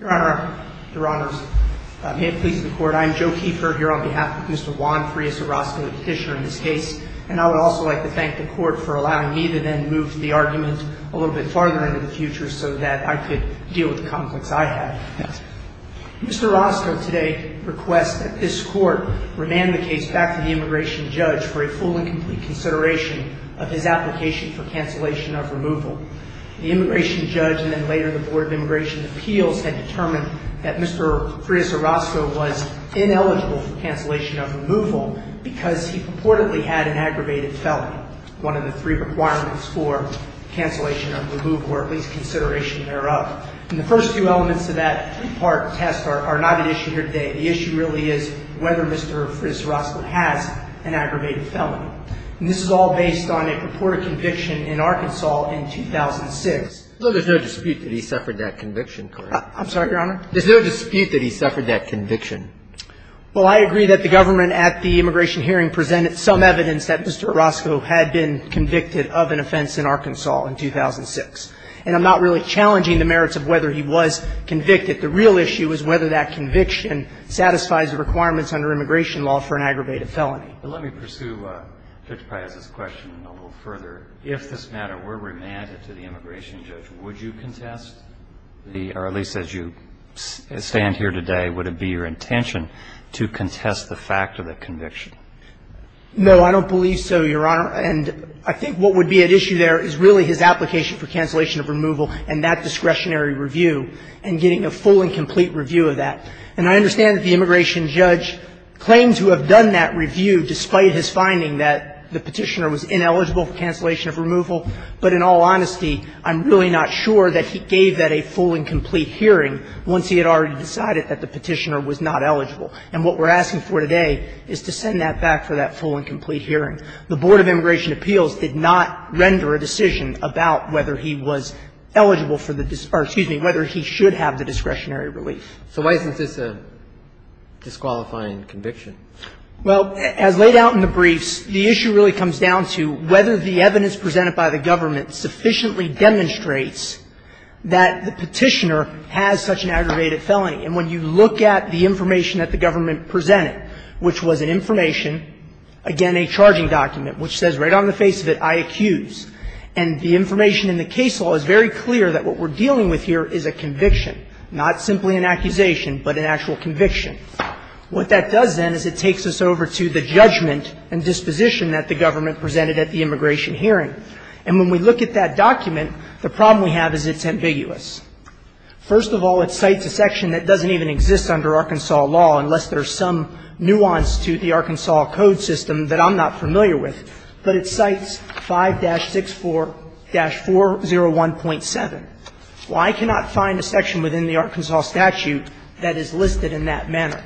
Your Honor, may it please the Court, I am Joe Keefer, here on behalf of Mr. Juan Frias Orozco, the petitioner in this case, and I would also like to thank the Court for allowing me to then move the argument a little bit farther into the future so that I could deal with the conflicts I had. Mr. Orozco today requests that this Court remand the case back to the Immigration Judge for a full and complete consideration of his application for cancellation of removal. The Immigration Judge and then later the Board of Immigration Appeals had determined that Mr. Frias Orozco was ineligible for cancellation of removal because he purportedly had an aggravated felony, one of the three requirements for cancellation of removal, or at least consideration thereof. And the first two elements of that part of the test are not an issue here today. The issue really is whether Mr. Frias Orozco has an aggravated felony. And this is all based on a purported conviction in Arkansas in 2006. So there's no dispute that he suffered that conviction, correct? I'm sorry, Your Honor? There's no dispute that he suffered that conviction. Well, I agree that the government at the immigration hearing presented some evidence that Mr. Orozco had been convicted of an offense in Arkansas in 2006. And I'm not really challenging the merits of whether he was convicted. The real issue is whether that conviction satisfies the requirements under immigration law for an aggravated felony. But let me pursue Judge Frias's question a little further. If this matter were remanded to the immigration judge, would you contest the or at least as you stand here today, would it be your intention to contest the fact of the conviction? No, I don't believe so, Your Honor. And I think what would be at issue there is really his application for cancellation of removal and that discretionary review and getting a full and complete review of that. And I understand that the immigration judge claims to have done that review despite his finding that the Petitioner was ineligible for cancellation of removal. But in all honesty, I'm really not sure that he gave that a full and complete hearing once he had already decided that the Petitioner was not eligible. And what we're asking for today is to send that back for that full and complete hearing. The Board of Immigration Appeals did not render a decision about whether he was eligible for the or, excuse me, whether he should have the discretionary relief. So why is this a disqualifying conviction? Well, as laid out in the briefs, the issue really comes down to whether the evidence presented by the government sufficiently demonstrates that the Petitioner has such an aggravated felony. And when you look at the information that the government presented, which was an information, again, a charging document, which says right on the face of it, I accuse, and the information in the case law is very clear that what we're dealing with here is a conviction, not simply an accusation, but an actual conviction. What that does then is it takes us over to the judgment and disposition that the government presented at the immigration hearing. And when we look at that document, the problem we have is it's ambiguous. First of all, it cites a section that doesn't even exist under Arkansas law, unless there's some nuance to the Arkansas code system that I'm not familiar with. But it cites 5-64-401.7. Well, I cannot find a section within the Arkansas statute that is listed in that manner.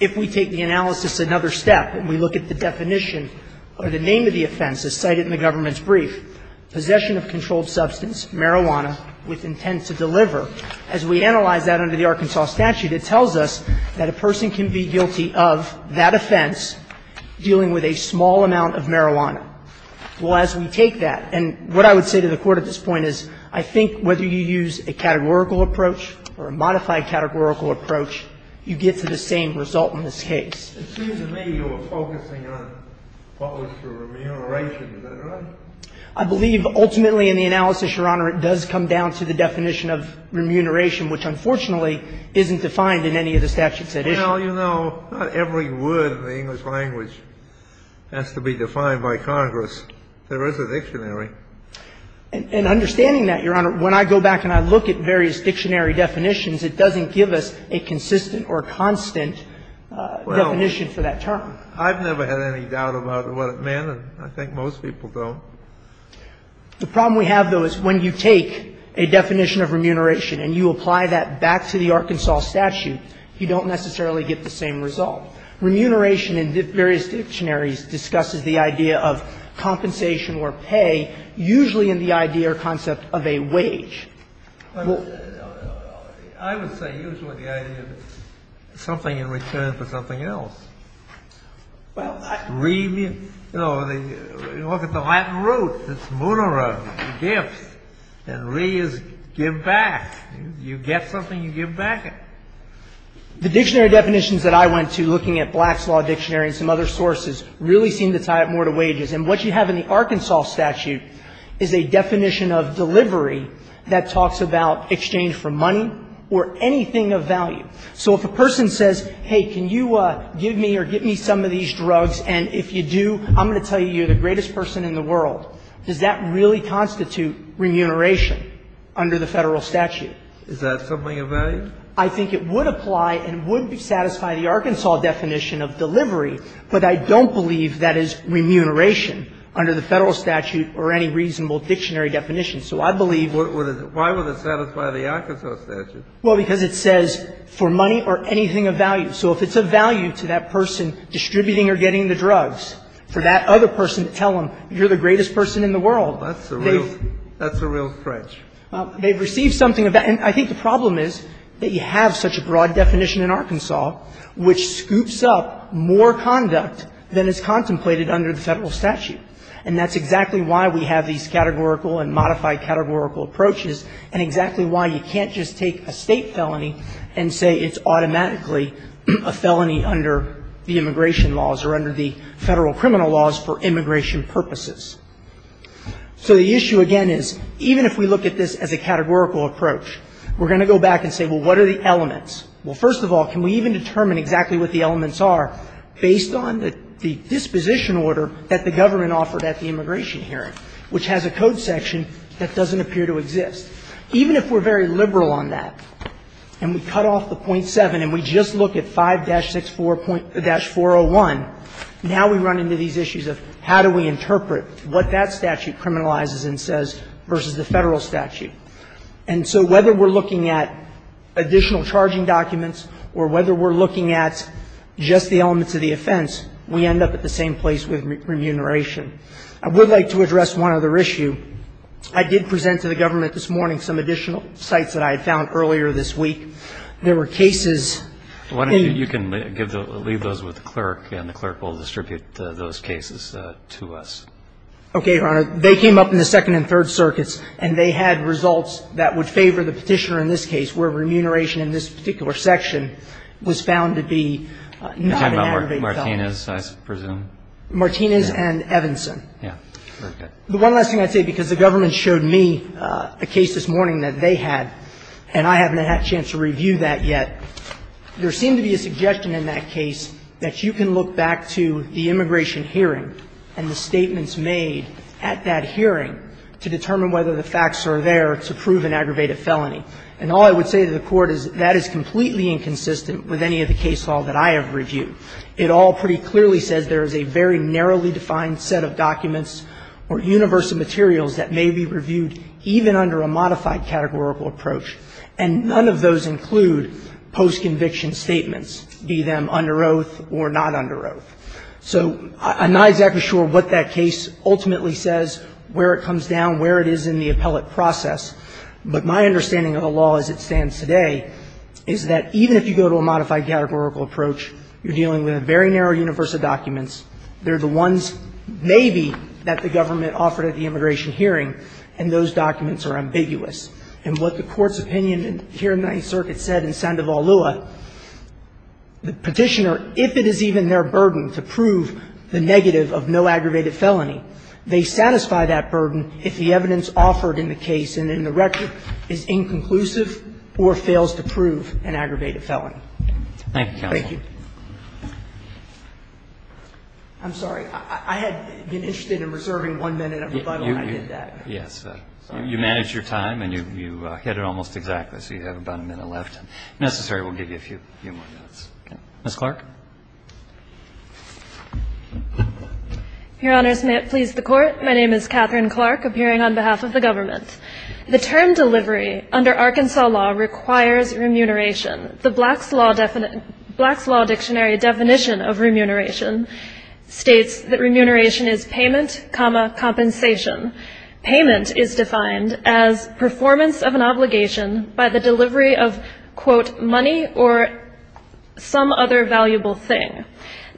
If we take the analysis another step and we look at the definition or the name of the offense as cited in the government's brief, possession of controlled substance, marijuana with intent to deliver, as we analyze that under the Arkansas statute, it tells us that a person can be guilty of that offense dealing with a small amount of marijuana. Well, as we take that, and what I would say to the Court at this point is I think whether you use a categorical approach or a modified categorical approach, you get to the same result in this case. I believe ultimately in the analysis, Your Honor, it does come down to the definition of remuneration, which unfortunately isn't defined in any of the statutes at issue. Well, you know, not every word in the English language has to be defined by Congress. There is a dictionary. And understanding that, Your Honor, when I go back and I look at various dictionary definitions, it doesn't give us a consistent or constant definition for that term. Well, I've never had any doubt about what it meant, and I think most people don't. The problem we have, though, is when you take a definition of remuneration and you apply that back to the Arkansas statute, you don't necessarily get the same result. Remuneration in various dictionaries discusses the idea of compensation or pay, usually in the idea or concept of a wage. Well, I would say usually the idea of something in return for something else. Well, I mean, you know, look at the Latin root. It's munera, gifts. And re is give back. You get something, you give back it. The dictionary definitions that I went to looking at Black's Law Dictionary and some other sources really seem to tie it more to wages. And what you have in the Arkansas statute is a definition of delivery that talks about exchange for money or anything of value. So if a person says, hey, can you give me or get me some of these drugs, and if you do, I'm going to tell you you're the greatest person in the world, does that really constitute remuneration under the Federal statute? Is that something of value? I think it would apply and would satisfy the Arkansas definition of delivery, but I don't believe that is remuneration under the Federal statute or any reasonable dictionary definition. So I believe what it is. Why would it satisfy the Arkansas statute? Well, because it says for money or anything of value. So if it's of value to that person distributing or getting the drugs, for that other person to tell them you're the greatest person in the world, they've been. That's a real stretch. They've received something of that. And I think the problem is that you have such a broad definition in Arkansas which scoops up more conduct than is contemplated under the Federal statute. And that's exactly why we have these categorical and modified categorical approaches and exactly why you can't just take a State felony and say it's automatically a felony under the immigration laws or under the Federal criminal laws for immigration purposes. So the issue again is, even if we look at this as a categorical approach, we're going to go back and say, well, what are the elements? Well, first of all, can we even determine exactly what the elements are based on the disposition order that the government offered at the immigration hearing, which has a code section that doesn't appear to exist? Even if we're very liberal on that and we cut off the .7 and we just look at 5-64-401, now we run into these issues of how do we interpret what that statute criminalizes and says versus the Federal statute. And so whether we're looking at additional charging documents or whether we're looking at just the elements of the offense, we end up at the same place with remuneration. I would like to address one other issue. I did present to the government this morning some additional sites that I had found earlier this week. There were cases that you can leave those with the clerk, and the clerk will distribute those cases to us. Okay, Your Honor. They came up in the Second and Third Circuits, and they had results that would favor the Petitioner in this case, where remuneration in this particular section was found to be not an aggravated felony. You're talking about Martinez, I presume? Martinez and Evanson. Yes. Okay. The one last thing I'd say, because the government showed me a case this morning that they had, and I haven't had a chance to review that yet. There seemed to be a suggestion in that case that you can look back to the immigration hearing and the statements made at that hearing to determine whether the facts are there to prove an aggravated felony. And all I would say to the Court is that is completely inconsistent with any of the case law that I have reviewed. It all pretty clearly says there is a very narrowly defined set of documents or universal materials that may be reviewed even under a modified categorical approach, and none of those include post-conviction statements, be them under oath or not under oath. So I'm not exactly sure what that case ultimately says, where it comes down, where it is in the appellate process. But my understanding of the law as it stands today is that even if you go to a modified categorical approach, you're dealing with a very narrow universe of documents, they're the ones maybe that the government offered at the immigration hearing, and those documents are ambiguous. And what the Court's opinion here in the Ninth Circuit said in Sandoval-Lua, the Petitioner, if it is even their burden to prove the negative of no aggravated felony, they satisfy that burden if the evidence offered in the case and in the record is inconclusive or fails to prove an aggravated felony. Thank you. Thank you. I'm sorry. I had been interested in reserving one minute of rebuttal, and I did that. Yes. You managed your time, and you hit it almost exactly, so you have about a minute left. If necessary, we'll give you a few more minutes. Ms. Clark. Your Honors, may it please the Court. My name is Catherine Clark, appearing on behalf of the government. The term delivery under Arkansas law requires remuneration. The Black's Law Dictionary definition of remuneration states that remuneration is payment, compensation. Payment is defined as performance of an obligation by the delivery of, quote, money or some other valuable thing.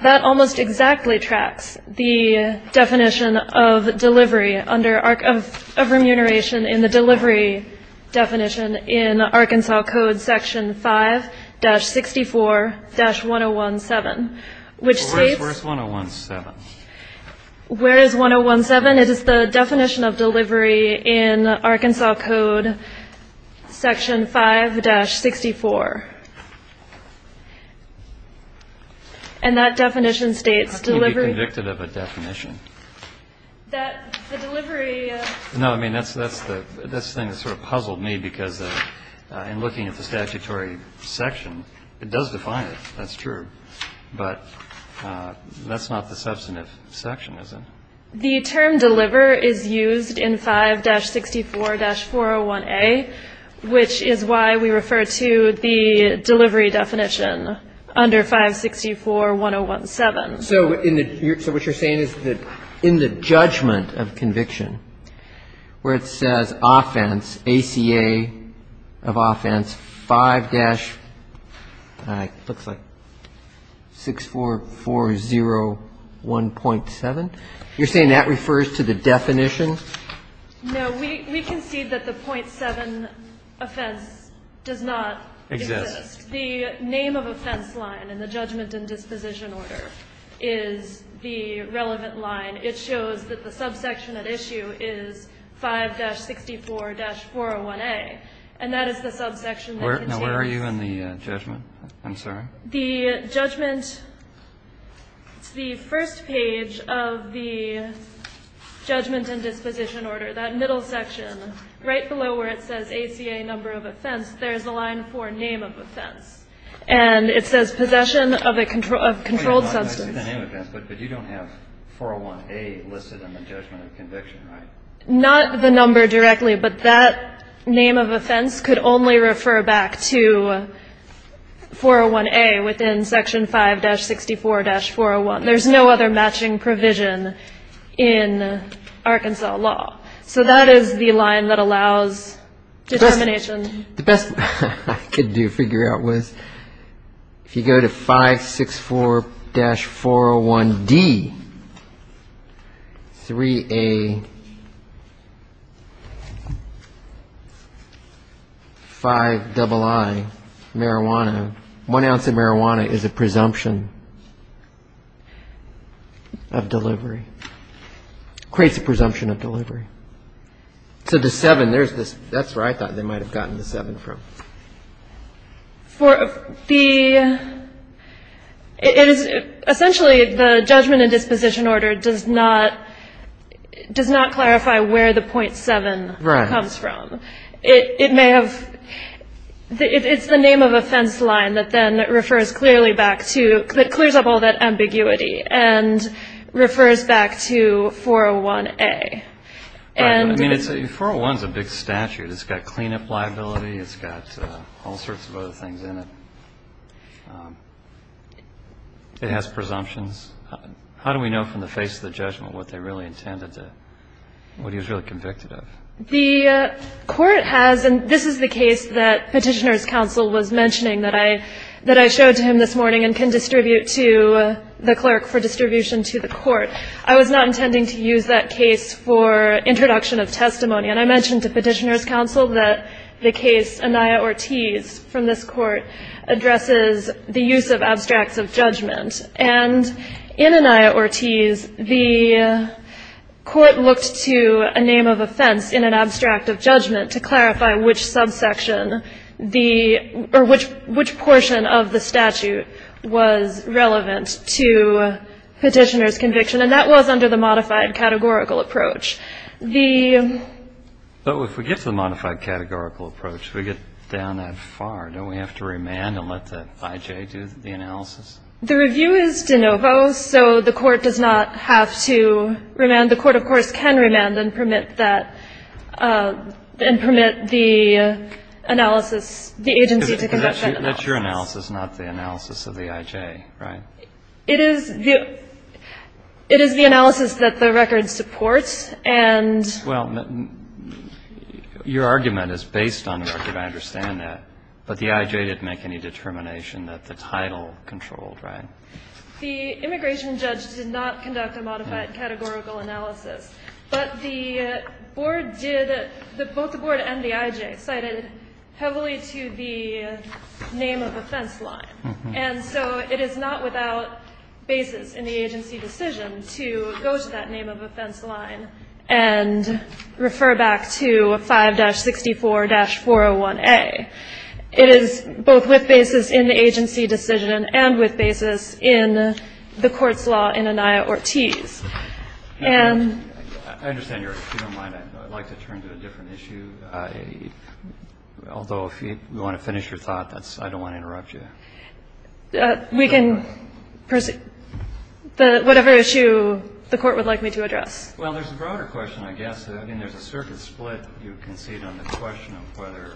That almost exactly tracks the definition of delivery under arc of remuneration in the delivery definition in Arkansas Code Section 5-64-1017, which states Where's 1017? Where is 1017? It is the definition of delivery in Arkansas Code Section 5-64. And that definition states delivery. How can you be convicted of a definition? The delivery. No, I mean, that's the thing that sort of puzzled me, because in looking at the statutory section, it does define it. That's true. But that's not the substantive section, is it? The term deliver is used in 5-64-401A, which is why we refer to the delivery definition under 5-64-1017. So what you're saying is that in the judgment of conviction, where it says offense, ACA of offense 5-64401.7, you're saying that refers to the definition? No. We concede that the .7 offense does not exist. The name of offense line in the judgment and disposition order is the relevant line. It shows that the subsection at issue is 5-64-401A, and that is the subsection that contains. Now, where are you in the judgment? I'm sorry. The judgment, the first page of the judgment and disposition order, that middle section, right below where it says ACA number of offense, there's a line for name of offense. And it says possession of a controlled substance. I see the name of offense, but you don't have 401A listed in the judgment of conviction, right? Not the number directly, but that name of offense could only refer back to 401A within section 5-64-401. There's no other matching provision in Arkansas law. So that is the line that allows determination. The best I could do to figure out was if you go to 5-64-401D, 3A, 5-double-I, marijuana, one ounce of marijuana is a presumption of delivery. Creates a presumption of delivery. So the 7, that's where I thought they might have gotten the 7 from. For the ‑‑ essentially the judgment and disposition order does not clarify where the .7 comes from. Right. It may have ‑‑ it's the name of offense line that then refers clearly back to, that clears up all that ambiguity and refers back to 401A. Right. I mean, 401 is a big statute. It's got cleanup liability. It's got all sorts of other things in it. It has presumptions. How do we know from the face of the judgment what they really intended to, what he was really convicted of? The court has, and this is the case that Petitioner's Counsel was mentioning that I showed to him this morning and can distribute to the clerk for distribution to the court. I was not intending to use that case for introduction of testimony. And I mentioned to Petitioner's Counsel that the case, Anaya Ortiz, from this court addresses the use of abstracts of judgment. And in Anaya Ortiz, the court looked to a name of offense in an abstract of judgment to clarify which subsection the ‑‑ or which portion of the statute was relevant to Petitioner's conviction. And that was under the modified categorical approach. The ‑‑ But if we get to the modified categorical approach, if we get down that far, don't we have to remand and let the IJ do the analysis? The review is de novo, so the court does not have to remand. And the court, of course, can remand and permit that ‑‑ and permit the analysis, the agency to conduct that analysis. But that's your analysis, not the analysis of the IJ, right? It is the ‑‑ it is the analysis that the record supports, and ‑‑ Well, your argument is based on the record. I understand that. But the IJ didn't make any determination that the title controlled, right? The immigration judge did not conduct a modified categorical analysis. But the board did ‑‑ both the board and the IJ cited heavily to the name of offense line. And so it is not without basis in the agency decision to go to that name of offense line and refer back to 5-64-401A. It is both with basis in the agency decision and with basis in the court's law in Anaya Ortiz. And ‑‑ If you don't mind, I'd like to turn to a different issue. Although, if you want to finish your thought, I don't want to interrupt you. We can proceed. Whatever issue the court would like me to address. Well, there's a broader question, I guess. Again, there's a circuit split. You concede on the question of whether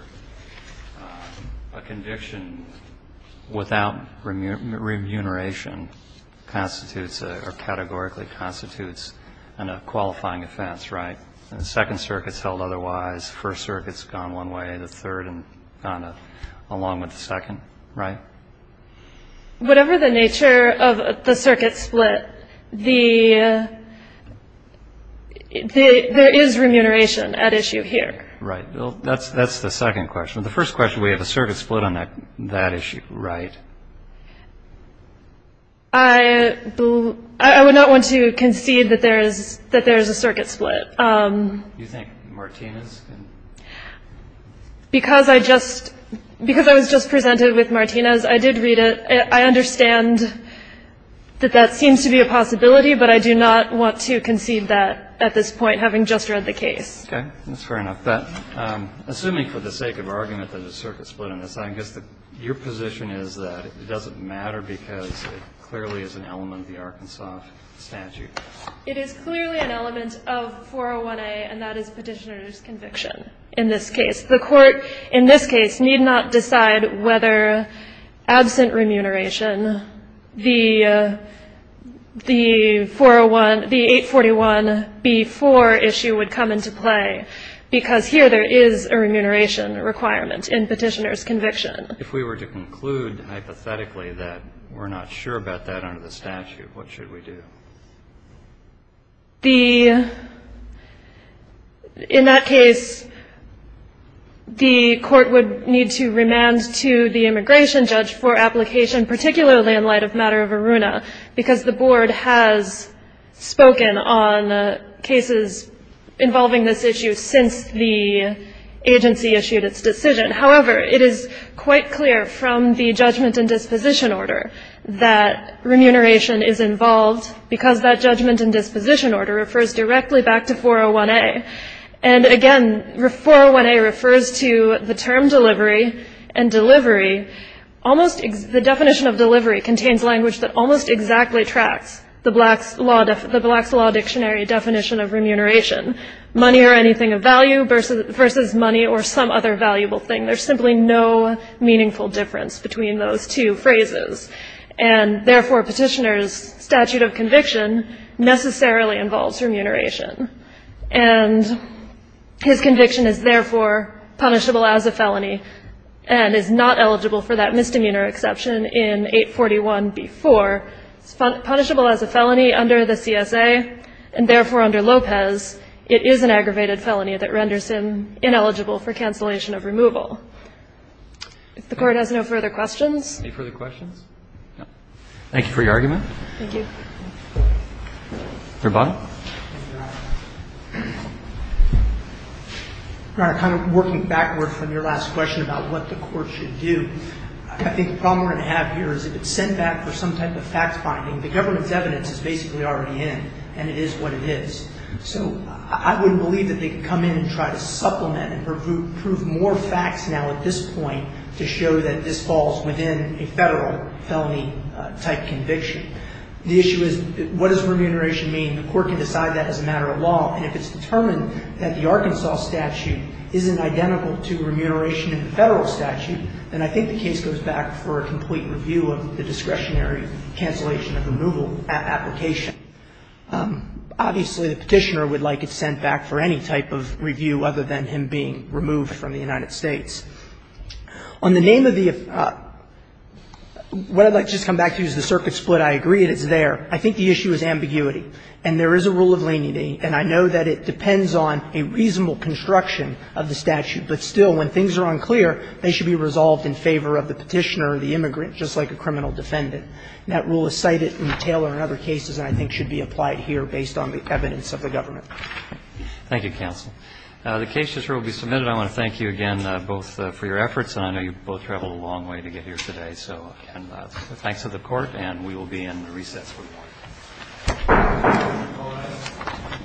a conviction without remuneration constitutes or categorically constitutes a qualifying offense, right? The second circuit is held otherwise. The first circuit is gone one way. The third is gone along with the second, right? Whatever the nature of the circuit split, there is remuneration at issue here. Right. That's the second question. The first question, we have a circuit split on that issue, right? I would not want to concede that there is a circuit split. Do you think Martinez can? Because I just ‑‑ because I was just presented with Martinez, I did read it. I understand that that seems to be a possibility, but I do not want to concede that at this point, having just read the case. Okay. That's fair enough. Assuming for the sake of argument that there's a circuit split on this, I guess your position is that it doesn't matter because it clearly is an element of the Arkansas statute. It is clearly an element of 401A, and that is Petitioner's conviction in this case. The court in this case need not decide whether, absent remuneration, the 401 ‑‑ the 841B4 issue would come into play because here there is a remuneration requirement in Petitioner's conviction. If we were to conclude hypothetically that we're not sure about that under the statute, what should we do? The ‑‑ in that case, the court would need to remand to the immigration judge for application, particularly in light of matter of ARUNA, because the board has spoken on cases involving this issue since the agency issued its decision. However, it is quite clear from the judgment and disposition order that remuneration is involved because that judgment and disposition order refers directly back to 401A. And again, 401A refers to the term delivery, and delivery almost ‑‑ the definition of delivery contains language that almost exactly tracks the Black's Law Dictionary definition of remuneration, money or anything of value versus money or some other valuable thing. There's simply no meaningful difference between those two phrases. And, therefore, Petitioner's statute of conviction necessarily involves remuneration. And his conviction is, therefore, punishable as a felony and is not eligible for that misdemeanor exception in 841B4. It's punishable as a felony under the CSA, and, therefore, under Lopez, it is an aggravated felony that renders him ineligible for cancellation of removal. If the Court has no further questions. Any further questions? No. Thank you for your argument. Thank you. Your bottom. Your Honor, kind of working backward from your last question about what the Court should do, I think the problem we're going to have here is if it's sent back for some type of fact-finding, the government's evidence is basically already in, and it is what it is. So I wouldn't believe that they could come in and try to supplement and prove more facts now at this point to show that this falls within a Federal felony-type conviction. The issue is what does remuneration mean? The Court can decide that as a matter of law. And if it's determined that the Arkansas statute isn't identical to remuneration in the Federal statute, then I think the case goes back for a complete review of the discretionary cancellation of removal application. Obviously, the Petitioner would like it sent back for any type of review other than him being removed from the United States. On the name of the ---- what I'd like to just come back to is the circuit split. I agree that it's there. I think the issue is ambiguity. And there is a rule of leniency, and I know that it depends on a reasonable construction of the statute. But still, when things are unclear, they should be resolved in favor of the Petitioner or the immigrant, just like a criminal defendant. And that rule is cited in Taylor and other cases and I think should be applied here based on the evidence of the government. Thank you, counsel. The case just will be submitted. I want to thank you again both for your efforts, and I know you both traveled a long way to get here today. So, again, thanks to the Court, and we will be in recess. Thank you.